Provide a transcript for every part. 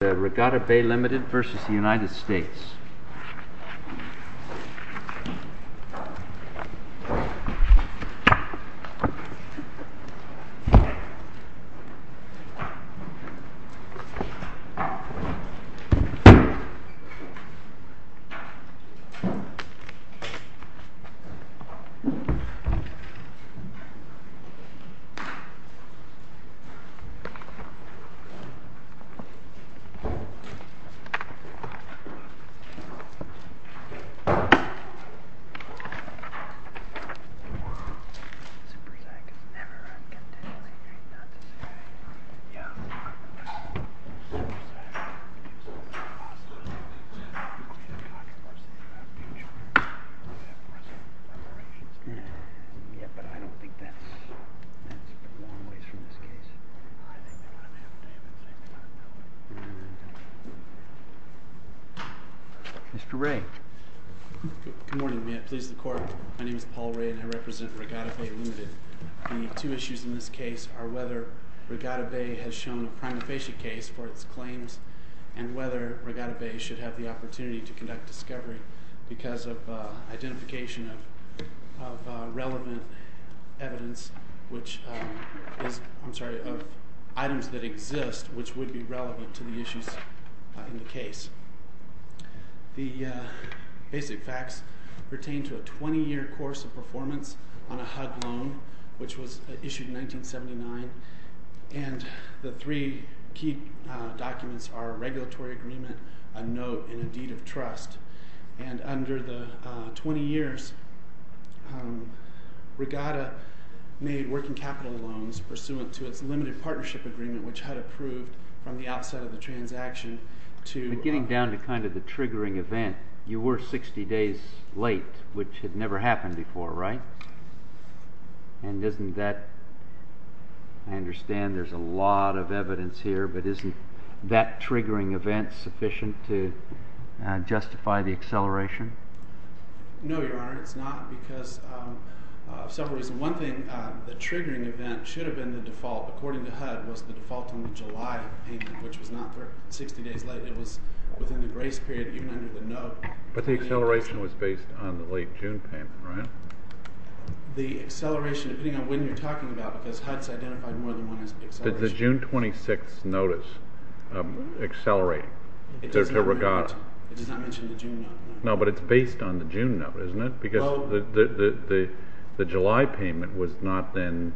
The Regatta Bay Limited v. United States The Regatta Bay Limited v. United States The Regatta Bay Limited v. United States They exist, and would be relevant to the issues in the case. The Basic Facts pertain to a twenty year course of performance on a HUD loan issued in 1979, and the three key documents are a regulatory agreement, note, and deed of trust. And under the 20 years, Regatta made working capital loans pursuant to its limited partnership agreement, which HUD approved from the outset of the transaction to... But getting down to kind of the triggering event, you were 60 days late, which had never happened before, right? And isn't that... I understand there's a lot of evidence here, but isn't that triggering event sufficient to justify the acceleration? No, Your Honor, it's not, because of several reasons. One thing, the triggering event should have been the default. According to HUD, it was the default on the July payment, which was not for 60 days late. It was within the grace period, even under the note. But the acceleration was based on the late June payment, right? The acceleration, depending on when you're talking about, because HUD's identified more than one as the acceleration. Did the June 26th notice accelerate? It does not mention the June note, no. No, but it's based on the June note, isn't it? Because the July payment was not then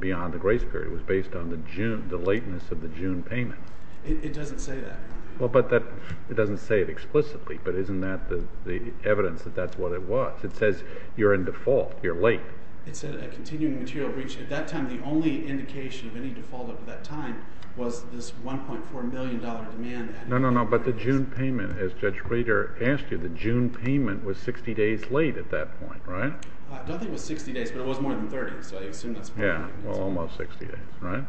beyond the grace period. It was based on the June, the lateness of the June payment. It doesn't say that. Well, but it doesn't say it explicitly, but isn't that the evidence that that's what it was? It says you're in default, you're late. It said a continuing material breach. At that time, the only indication of any default over that time was this $1.4 million demand. No, no, no, but the June payment, as Judge Breeder asked you, the June payment was 60 days late at that point, right? I don't think it was 60 days, but it was more than 30, so I assume that's part of it. Yeah, well, almost 60 days, right?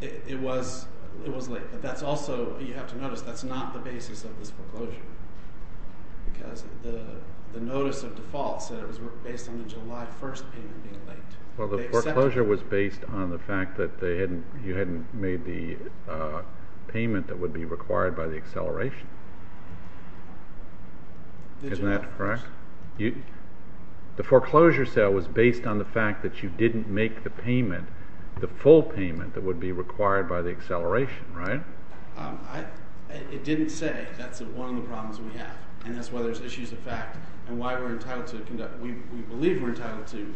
It was late, but that's also, you have to notice, that's not the basis of this foreclosure. Because the notice of default said it was based on the July 1st payment being late. Well, the foreclosure was based on the fact that you hadn't made the payment that would be required by the acceleration. Isn't that correct? The foreclosure sale was based on the fact that you didn't make the payment, the full payment that would be required by the acceleration, right? It didn't say. That's one of the problems we have, and that's why there's issues of fact, and why we're entitled to conduct, we believe we're entitled to,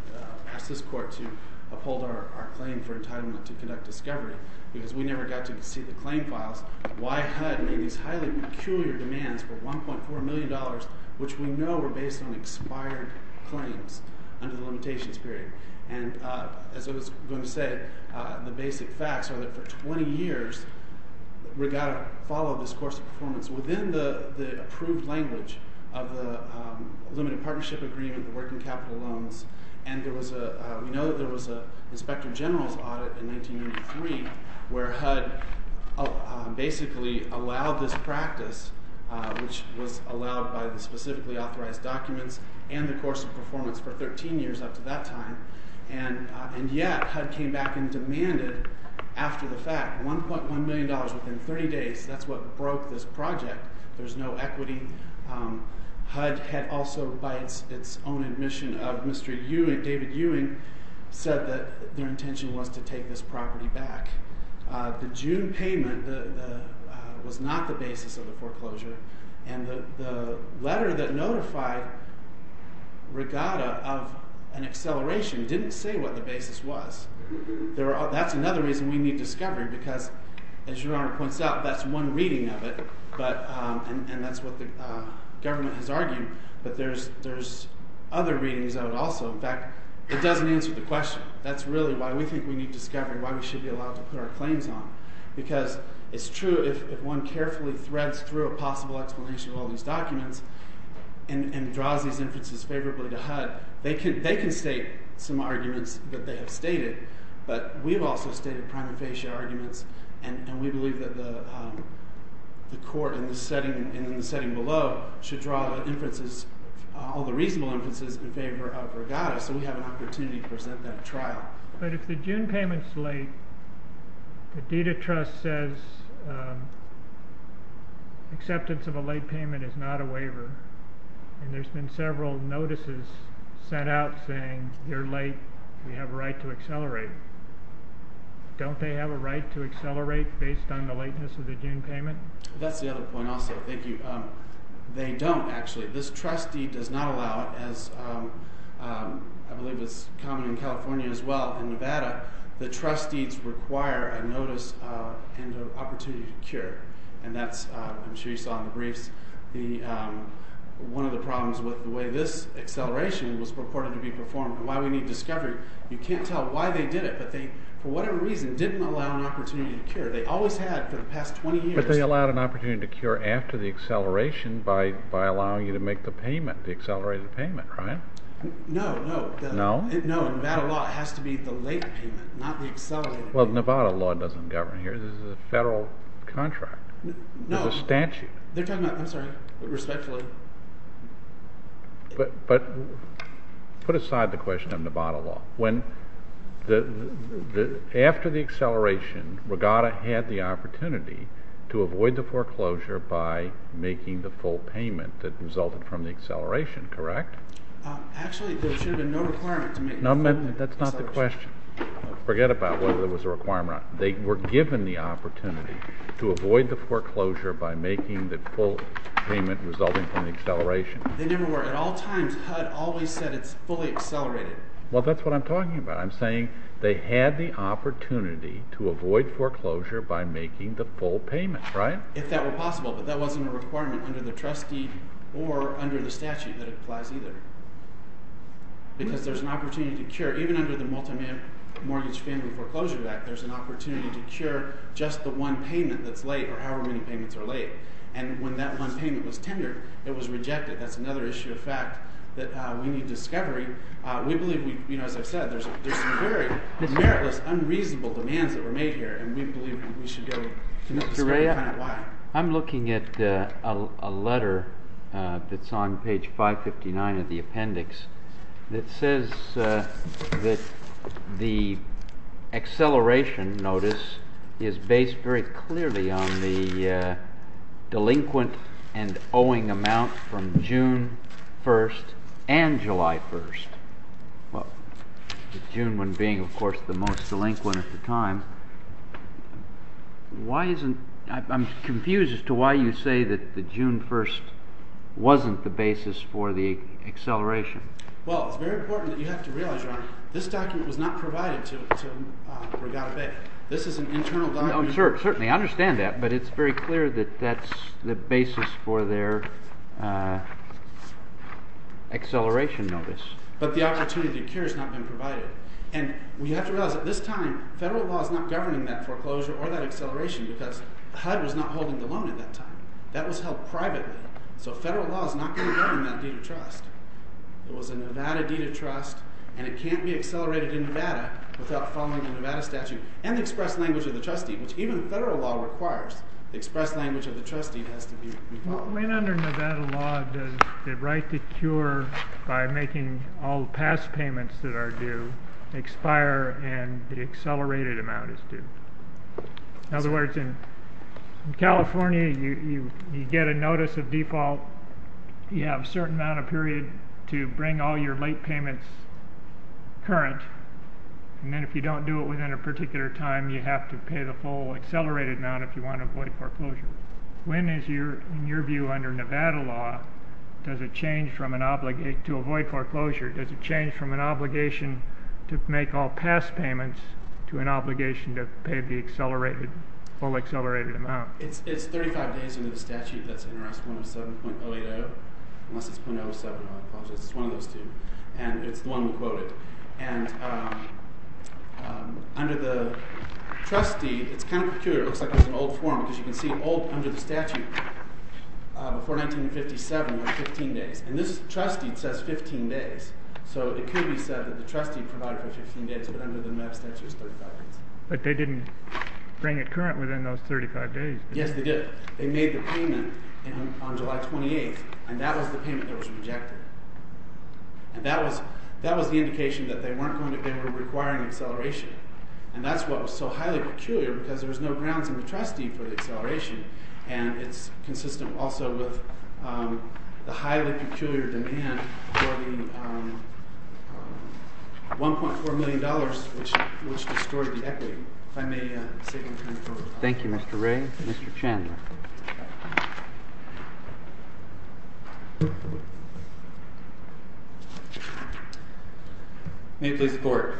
ask this court to uphold our claim for entitlement to conduct discovery, because we never got to see the claim files. Why HUD made these highly peculiar demands for $1.4 million, which we know were based on expired claims under the limitations period. And, as I was going to say, the basic facts are that for 20 years, we got to follow this course of performance within the approved language of the limited partnership agreement, the working capital loans, and we know that there was an inspector general's audit in 1993 where HUD basically allowed this practice, which was allowed by the specifically authorized documents, and the course of performance for 13 years up to that time. And yet HUD came back and demanded, after the fact, $1.1 million within 30 days. That's what broke this project. There's no equity. HUD had also, by its own admission of Mr. Ewing, David Ewing, said that their intention was to take this property back. The June payment was not the basis of the foreclosure, and the letter that notified Regatta of an acceleration didn't say what the basis was. That's another reason we need discovery, because, as Your Honor points out, that's one reading of it, and that's what the government has argued, but there's other readings of it also. In fact, it doesn't answer the question. That's really why we think we need discovery, why we should be allowed to put our claims on. Because it's true if one carefully threads through a possible explanation of all these documents and draws these inferences favorably to HUD, they can state some arguments that they have stated, but we've also stated prima facie arguments, and we believe that the court in the setting below should draw all the reasonable inferences in favor of Regatta, so we have an opportunity to present that trial. But if the June payment's late, the deed of trust says acceptance of a late payment is not a waiver, and there's been several notices sent out saying you're late, you have a right to accelerate. Don't they have a right to accelerate based on the lateness of the June payment? That's the other point also. Thank you. They don't, actually. This trust deed does not allow it. As I believe is common in California as well and Nevada, the trust deeds require a notice and an opportunity to cure, and that's, I'm sure you saw in the briefs, one of the problems with the way this acceleration was reported to be performed and why we need discovery. You can't tell why they did it, but they for whatever reason didn't allow an opportunity to cure. They always had for the past 20 years. But they allowed an opportunity to cure after the acceleration by allowing you to make the payment, the accelerated payment, right? No, no. No? No, Nevada law has to be the late payment, not the accelerated payment. Well, Nevada law doesn't govern here. This is a federal contract. No. There's a statute. They're talking about, I'm sorry, respectfully. But put aside the question of Nevada law. After the acceleration, Regatta had the opportunity to avoid the foreclosure by making the full payment that resulted from the acceleration, correct? Actually, there should have been no requirement to make the full payment. That's not the question. Forget about whether there was a requirement. They were given the opportunity to avoid the foreclosure by making the full payment resulting from the acceleration. They never were. At all times HUD always said it's fully accelerated. Well, that's what I'm talking about. I'm saying they had the opportunity to avoid foreclosure by making the full payment, right? If that were possible. But that wasn't a requirement under the trustee or under the statute that it applies either. Because there's an opportunity to cure. Even under the Multimillion Mortgage Family Foreclosure Act, there's an opportunity to cure just the one payment that's late or however many payments are late. And when that one payment was tendered, it was rejected. That's another issue of fact that we need discovery. We believe, as I've said, there's some very meritless, unreasonable demands that were made here. And we believe we should go and find out why. I'm looking at a letter that's on page 559 of the appendix that says that the acceleration notice is based very clearly on the delinquent and owing amount from June 1st and July 1st. Well, the June 1st being, of course, the most delinquent at the time. I'm confused as to why you say that the June 1st wasn't the basis for the acceleration. Well, it's very important that you have to realize, Your Honor, this document was not provided to Regatta Bay. This is an internal document. Certainly, I understand that. But it's very clear that that's the basis for their acceleration notice. But the opportunity to cure has not been provided. And we have to realize that this time, federal law is not governing that foreclosure or that acceleration because HUD was not holding the loan at that time. That was held privately. So federal law is not going to govern that deed of trust. It was a Nevada deed of trust, and it can't be accelerated in Nevada without following a Nevada statute and the express language of the trustee, which even federal law requires. The express language of the trustee has to be followed. So when under Nevada law does the right to cure by making all past payments that are due expire and the accelerated amount is due? In other words, in California, you get a notice of default. You have a certain amount of period to bring all your late payments current. And then if you don't do it within a particular time, you have to pay the full accelerated amount if you want to avoid foreclosure. When is your view under Nevada law, does it change from an obligation to avoid foreclosure? Does it change from an obligation to make all past payments to an obligation to pay the accelerated, full accelerated amount? It's 35 days into the statute that's in Rest 107.080, unless it's 107, I apologize. It's one of those two. And it's the one we quoted. And under the trustee, it's kind of peculiar. It looks like there's an old form because you can see old under the statute before 1957 was 15 days. And this trustee says 15 days. So it could be said that the trustee provided for 15 days, but under the Nevada statute it's 35 days. But they didn't bring it current within those 35 days. Yes, they did. They made the payment on July 28th, and that was the payment that was rejected. And that was the indication that they weren't going to be requiring acceleration. And that's what was so highly peculiar because there was no grounds in the trustee for the acceleration, and it's consistent also with the highly peculiar demand for the $1.4 million which destroyed the equity. If I may say anything further. Thank you, Mr. Ray. Mr. Chandler. May it please the Court.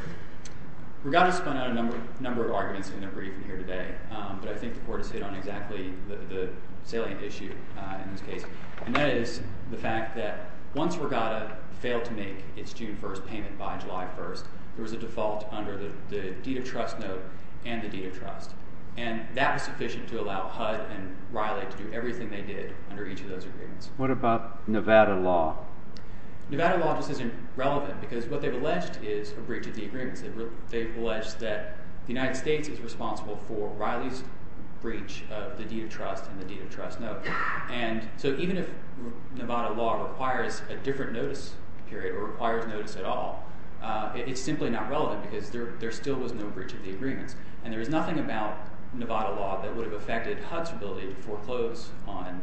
Regatta spun out a number of arguments in their briefing here today, but I think the Court has hit on exactly the salient issue in this case, and that is the fact that once Regatta failed to make its June 1st payment by July 1st, there was a default under the deed of trust note and the deed of trust. And that was sufficient to allow HUD and Riley to do everything they did under each of those agreements. What about Nevada law? Nevada law just isn't relevant because what they've alleged is a breach of the agreements. They've alleged that the United States is responsible for Riley's breach of the deed of trust and the deed of trust note. And so even if Nevada law requires a different notice period or requires notice at all, it's simply not relevant because there still was no breach of the agreements. And there is nothing about Nevada law that would have affected HUD's ability to foreclose on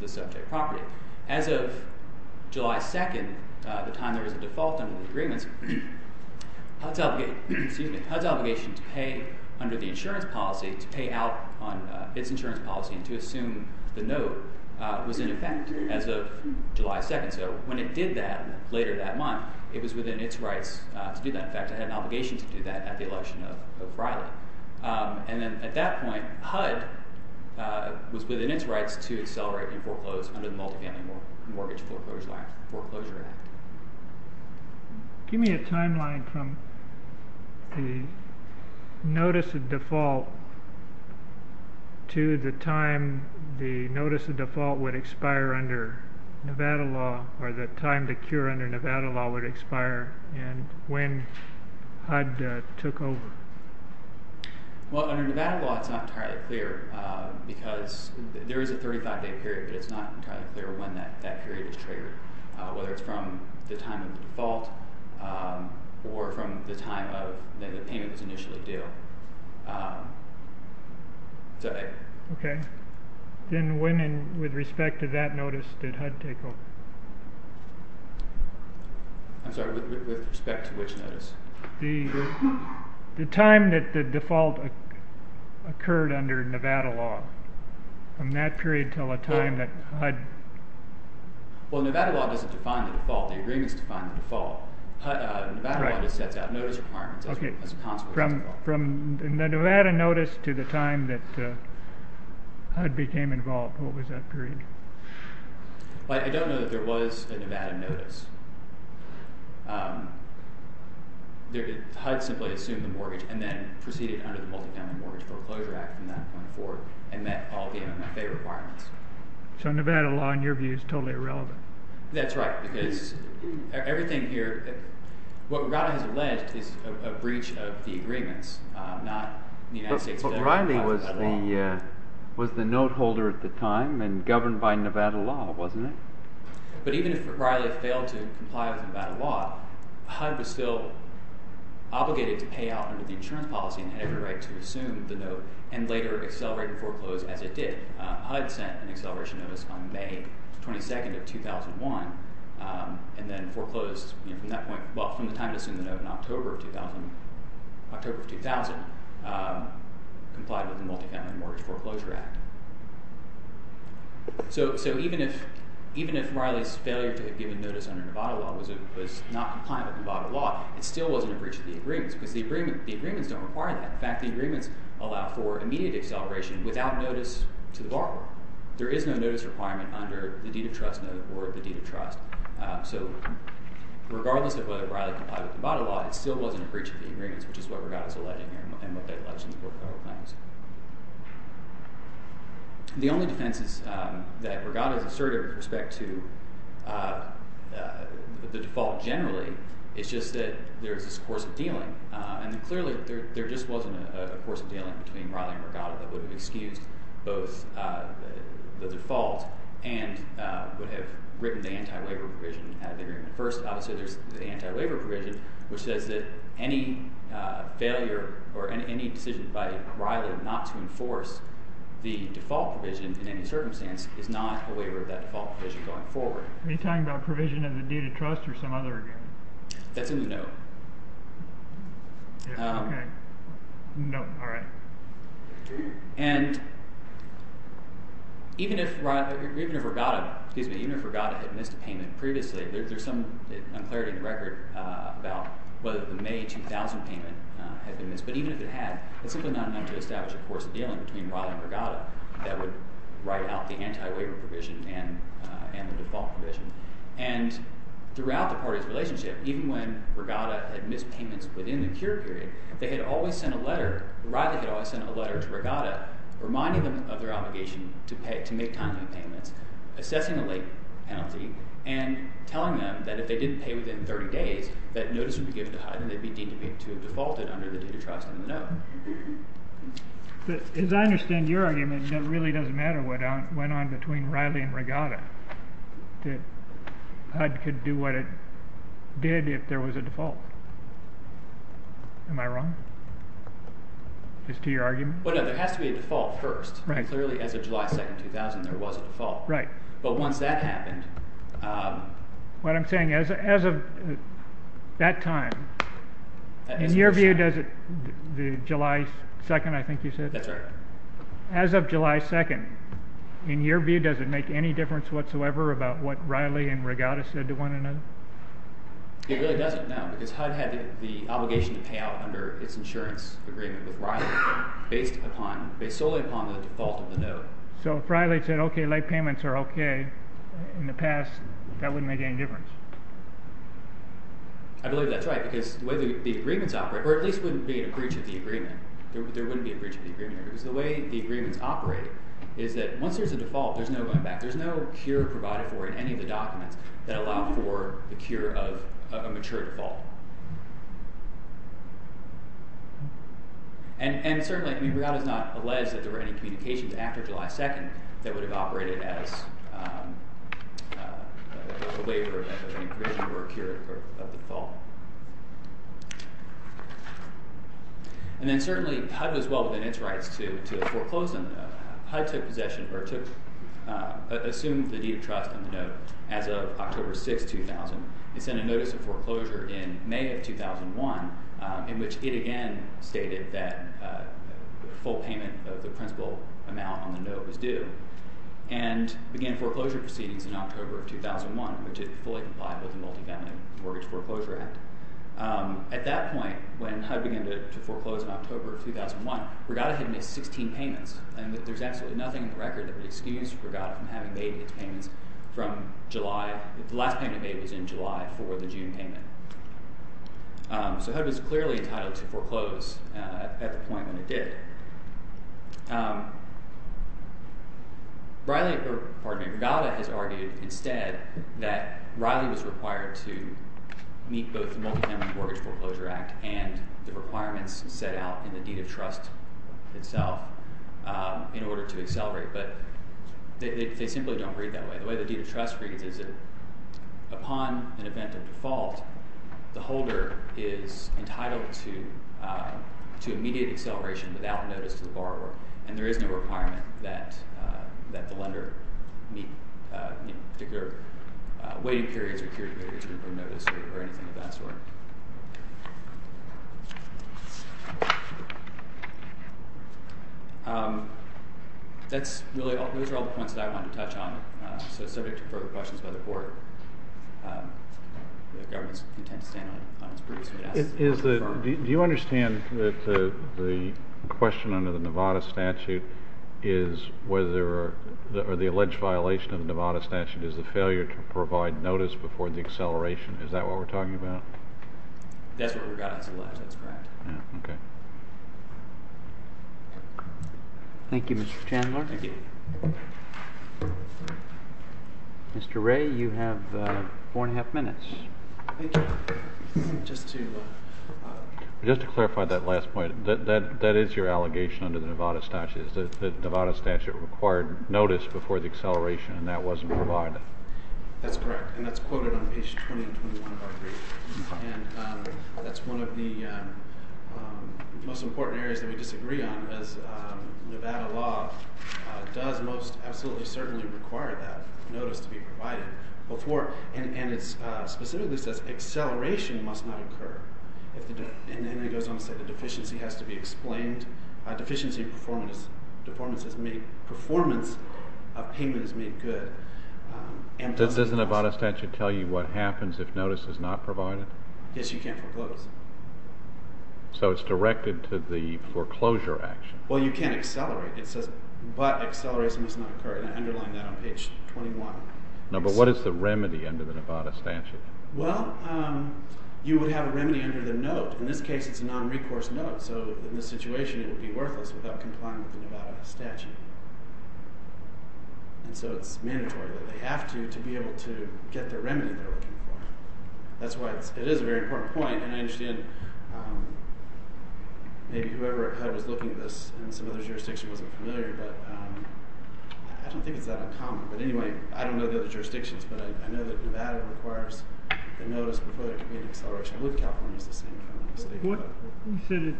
the subject property. As of July 2nd, the time there was a default under the agreements, HUD's obligation to pay under the insurance policy to pay out on its insurance policy and to assume the note was in effect as of July 2nd. So when it did that later that month, it was within its rights to do that. In fact, it had an obligation to do that at the election of Riley. And then at that point, HUD was within its rights to accelerate and foreclose under the Multifamily Mortgage Foreclosure Act. Give me a timeline from the notice of default to the time the notice of default would expire under Nevada law or the time the cure under Nevada law would expire and when HUD took over. Well, under Nevada law, it's not entirely clear because there is a 35-day period, but it's not entirely clear when that period is triggered, whether it's from the time of default or from the time that the payment was initially due. Okay. Then when and with respect to that notice did HUD take over? I'm sorry, with respect to which notice? The time that the default occurred under Nevada law. From that period until the time that HUD... Well, Nevada law doesn't define the default. The agreements define the default. Nevada law just sets out notice requirements as a consequence of default. Okay. From the Nevada notice to the time that HUD became involved, what was that period? I don't know that there was a Nevada notice. HUD simply assumed the mortgage and then proceeded under the Multifamily Mortgage Foreclosure Act from that point forward and met all the MMFA requirements. So Nevada law, in your view, is totally irrelevant. That's right, because everything here, what Riley has alleged is a breach of the agreements, not the United States... But Riley was the note holder at the time and governed by Nevada law, wasn't he? But even if Riley failed to comply with Nevada law, HUD was still obligated to pay out under the insurance policy and had every right to assume the note and later accelerate the foreclose as it did. HUD sent an acceleration notice on May 22nd of 2001 and then foreclosed from that point, well, from the time it assumed the note in October of 2000, complied with the Multifamily Mortgage Foreclosure Act. So even if Riley's failure to have given notice under Nevada law was not compliant with Nevada law, it still wasn't a breach of the agreements because the agreements don't require that. In fact, the agreements allow for immediate acceleration without notice to the borrower. There is no notice requirement under the deed of trust note or the deed of trust. So regardless of whether Riley complied with Nevada law, it still wasn't a breach of the agreements, which is what Regatta is alleging here and what that alleges in the Portfolio of Claims. The only defenses that Regatta has asserted with respect to the default generally is just that there is this course of dealing. And clearly there just wasn't a course of dealing between Riley and Regatta that would have excused both the default and would have written the anti-waiver provision out of the agreement. First, obviously, there's the anti-waiver provision, which says that any failure or any decision by Riley not to enforce the default provision in any circumstance is not a waiver of that default provision going forward. Are you talking about provision of the deed of trust or some other agreement? That's in the note. Okay. Nope. All right. And even if Regatta had missed a payment previously, there's some unclarity in the record about whether the May 2000 payment had been missed. But even if it had, it's simply not enough to establish a course of dealing between Riley and Regatta that would write out the anti-waiver provision and the default provision. And throughout the parties' relationship, even when Regatta had missed payments within the cure period, they had always sent a letter, Riley had always sent a letter to Regatta reminding them of their obligation to make timely payments, assessing the late penalty, and telling them that if they didn't pay within 30 days, that notice would be given to HUD and they'd be deemed to have defaulted under the deed of trust in the note. As I understand your argument, it really doesn't matter what went on between Riley and Regatta. HUD could do what it did if there was a default. Am I wrong? As to your argument? Well, no, there has to be a default first. Right. Clearly, as of July 2, 2000, there was a default. Right. But once that happened, What I'm saying, as of that time, in your view, does it, the July 2, I think you said? That's right. As of July 2, in your view, does it make any difference whatsoever about what Riley and Regatta said to one another? It really doesn't, no, because HUD had the obligation to pay out under its insurance agreement with Riley based solely upon the default of the note. So if Riley said, okay, late payments are okay, in the past, that wouldn't make any difference. I believe that's right because the way the agreements operate, or at least there wouldn't be a breach of the agreement. There wouldn't be a breach of the agreement because the way the agreements operate is that once there's a default, there's no going back. There's no cure provided for in any of the documents that allow for the cure of a mature default. And certainly, I mean, Regatta's not alleged that there were any communications after July 2 that would have operated as a waiver of any provision for a cure of the default. And then certainly, HUD was well within its rights to foreclose on the note. HUD assumed the deed of trust on the note as of October 6, 2000. It sent a notice of foreclosure in May of 2001 in which it again stated that full payment of the principal amount on the note was due and began foreclosure proceedings in October of 2001 which is fully compliant with the Multifamily Mortgage Foreclosure Act. At that point, when HUD began to foreclose in October of 2001, Regatta had missed 16 payments and there's absolutely nothing in the record that would excuse Regatta from having made these payments from July. The last payment made was in July for the June payment. So HUD was clearly entitled to foreclose at the point when it did. Regatta has argued instead that Riley was required to meet both the Multifamily Mortgage Foreclosure Act and the requirements set out in the deed of trust itself in order to accelerate, but they simply don't read that way. The way the deed of trust reads is that upon an event of default, the holder is entitled to immediate acceleration without notice to the borrower and there is no requirement that the lender meet particular waiting periods or anything of that sort. That's really all. Those are all the points that I wanted to touch on. So subject to further questions by the court, the government's intent to stand on its previous witness. Do you understand that the question under the Nevada statute is whether the alleged violation of the Nevada statute is the failure to provide notice before the acceleration? Is that what we're talking about? That's what Regatta has alleged. That's correct. Okay. Thank you, Mr. Chandler. Thank you. Mr. Ray, you have four and a half minutes. Thank you. Just to clarify that last point, that is your allegation under the Nevada statute that the Nevada statute required notice before the acceleration and that wasn't provided? That's correct and that's quoted on page 20 and 21 of our brief and that's one of the most important areas that we disagree on as Nevada law does most absolutely certainly require that notice to be provided before and it specifically says acceleration must not occur and then it goes on to say the deficiency has to be explained. Deficiency performance is made performance of payment is made good. Does the Nevada statute tell you what happens if notice is not provided? Yes, you can't foreclose. So it's directed to the foreclosure action. Well, you can't accelerate. It says but acceleration must not occur and I underline that on page 21. No, but what is the remedy under the Nevada statute? Well, you would have a remedy under the note. In this case, it's a non-recourse note so in this situation it would be worthless without complying with the Nevada statute and so it's mandatory that they have to to be able to get the remedy they're looking for. That's why it is a very important point and I understand maybe whoever was looking at this in some other jurisdictions wasn't familiar but I don't think it's that uncommon but anyway I don't know the other jurisdictions but I know that Nevada requires a notice before it can be an acceleration. I believe California is the same. What you said it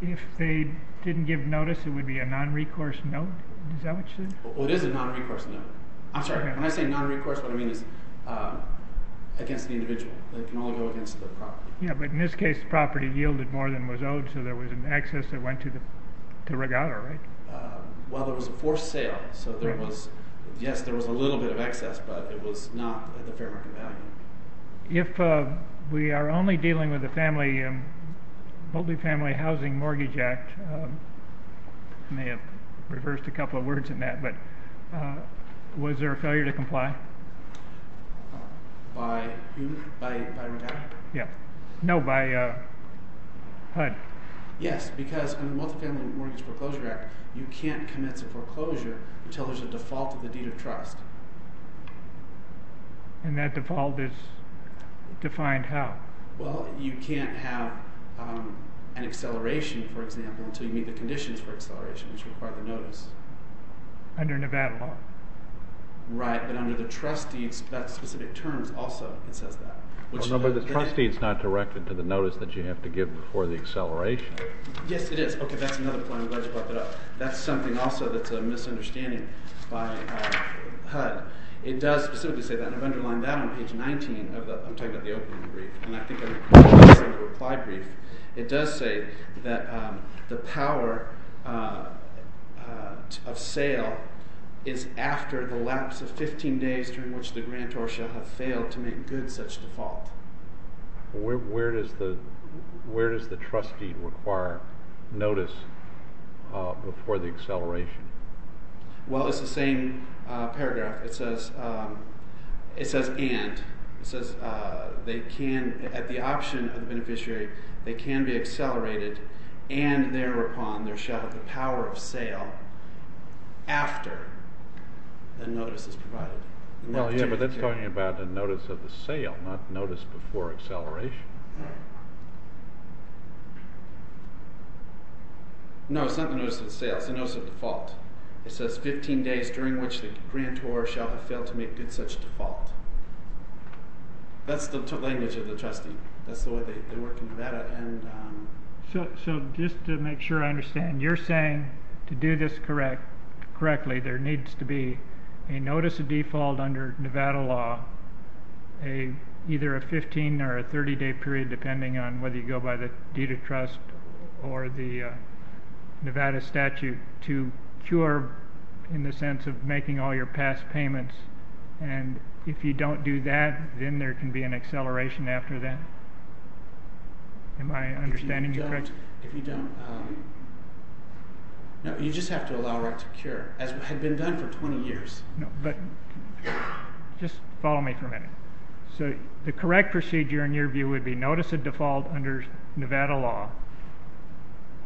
If they didn't give notice it would be a non-recourse note? Is that what you said? It is a non-recourse note. I'm sorry, when I say non-recourse what I mean is against the individual. They can all go against the property. Yeah, but in this case the property yielded more than was owed so there was an excess that went to the regatta, right? Well, it was a forced sale so there was yes, there was a little bit of excess but it was not a fair market value. If we are only dealing with a family multi-family housing mortgage act I may have reversed a couple of words in that but was there a failure to comply? By who? By regatta? Yeah. No, by HUD. Yes, because in the multi-family mortgage foreclosure act you can't commence a foreclosure until there is a default of the deed of trust. And that default is defined how? Well, you can't have an acceleration for example until you meet the conditions for acceleration which require the notice. Under Nevada law? Right, but under the trust deeds that specific terms also it says that. No, but the trust deed is not directed to the notice that you have to give before the acceleration. Yes, it is. Okay, that's another point I'm glad you brought that up. That's something also that's a misunderstanding by HUD. It does specifically say that and I've underlined that on page 19 of the I'm talking about the opening brief and I think I've mentioned this in the reply brief. It does say that the power of sale is after the lapse of 15 days during which the grantor shall have failed to make good such default. Where does the trust deed require notice before the acceleration? Well, it's the same paragraph. It says it says and it says they can at the option of the beneficiary they can be accelerated and thereupon there shall be the power of sale after the notice is provided. Well, yeah, but that's talking about the notice of the sale not notice before acceleration. No, it's not the notice of the sale. It's the notice of default. It says 15 days during which the grantor shall have failed to make good such default. That's the language of the trust deed. That's the way they work in Nevada and so just to make sure I understand you're saying to do this correct correctly there needs to be a notice of default under Nevada law a either a 15 or a 30 day period depending on whether you have a right to a statute to cure in the sense of making all your past payments and if you don't do that then there can be an acceleration after that. Am I understanding you correctly? If you don't no, you just have to allow right to cure as had been done for 20 years. No, but just follow me for a minute. So the correct procedure in your view would be notice of default under Nevada law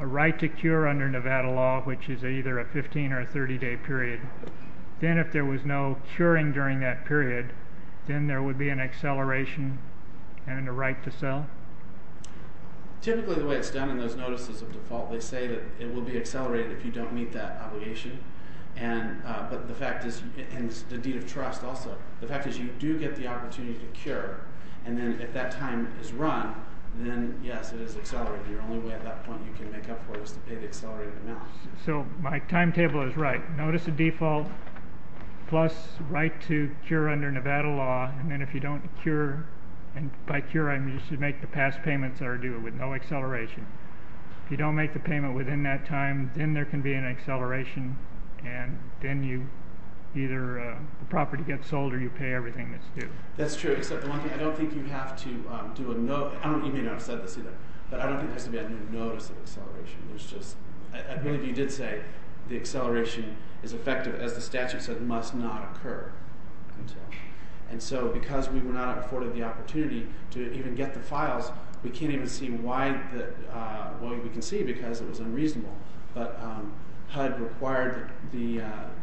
a right to cure under Nevada law which is either a 15 or a 30 day period then if there was no curing during that period then there would be an acceleration and a right to sell? Typically the way it's done in those notices of default they say that it will be accelerated if you don't meet that obligation and the deed of trust also. The fact is you do get the opportunity to cure and then if that time is run then yes it is accelerated. The only way at that point you can make up for it is to pay the accelerated amount. So my timetable is right. You make that payment within that time then there can be an acceleration and then the property gets sold or you pay everything that's due. That's true except the one thing I don't think you have to do a notice of acceleration. Many of you did say the acceleration is effective as the statute said must not occur. It was unreasonable but HUD required the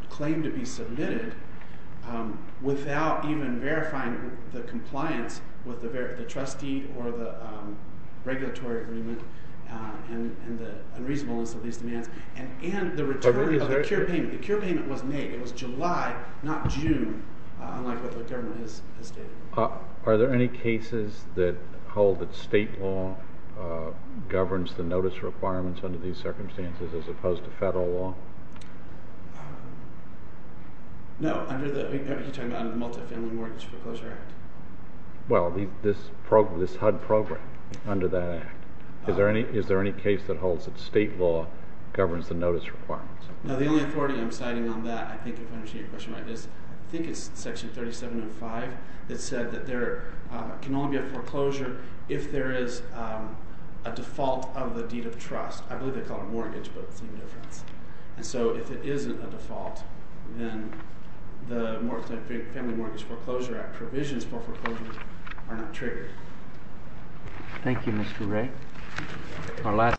claim to be submitted without even verifying the compliance with the trustee or the regulatory agreement and the reasonableness of these demands and the return of the cure payment. The cure payment was made in July not June unlike what the government has stated. I don't believe that the federal law is sufficient to make a notice of acceleration and the return of the cure payment without verifying the compliance with the regulatory agreement. I don't believe that the law is sufficient to make a notice of acceleration and the return of the cure payment without verifying the compliance with the regulatory agreement. I don't of acceleration and the return of the cure payment without verifying the regulatory agreement. I don't believe that the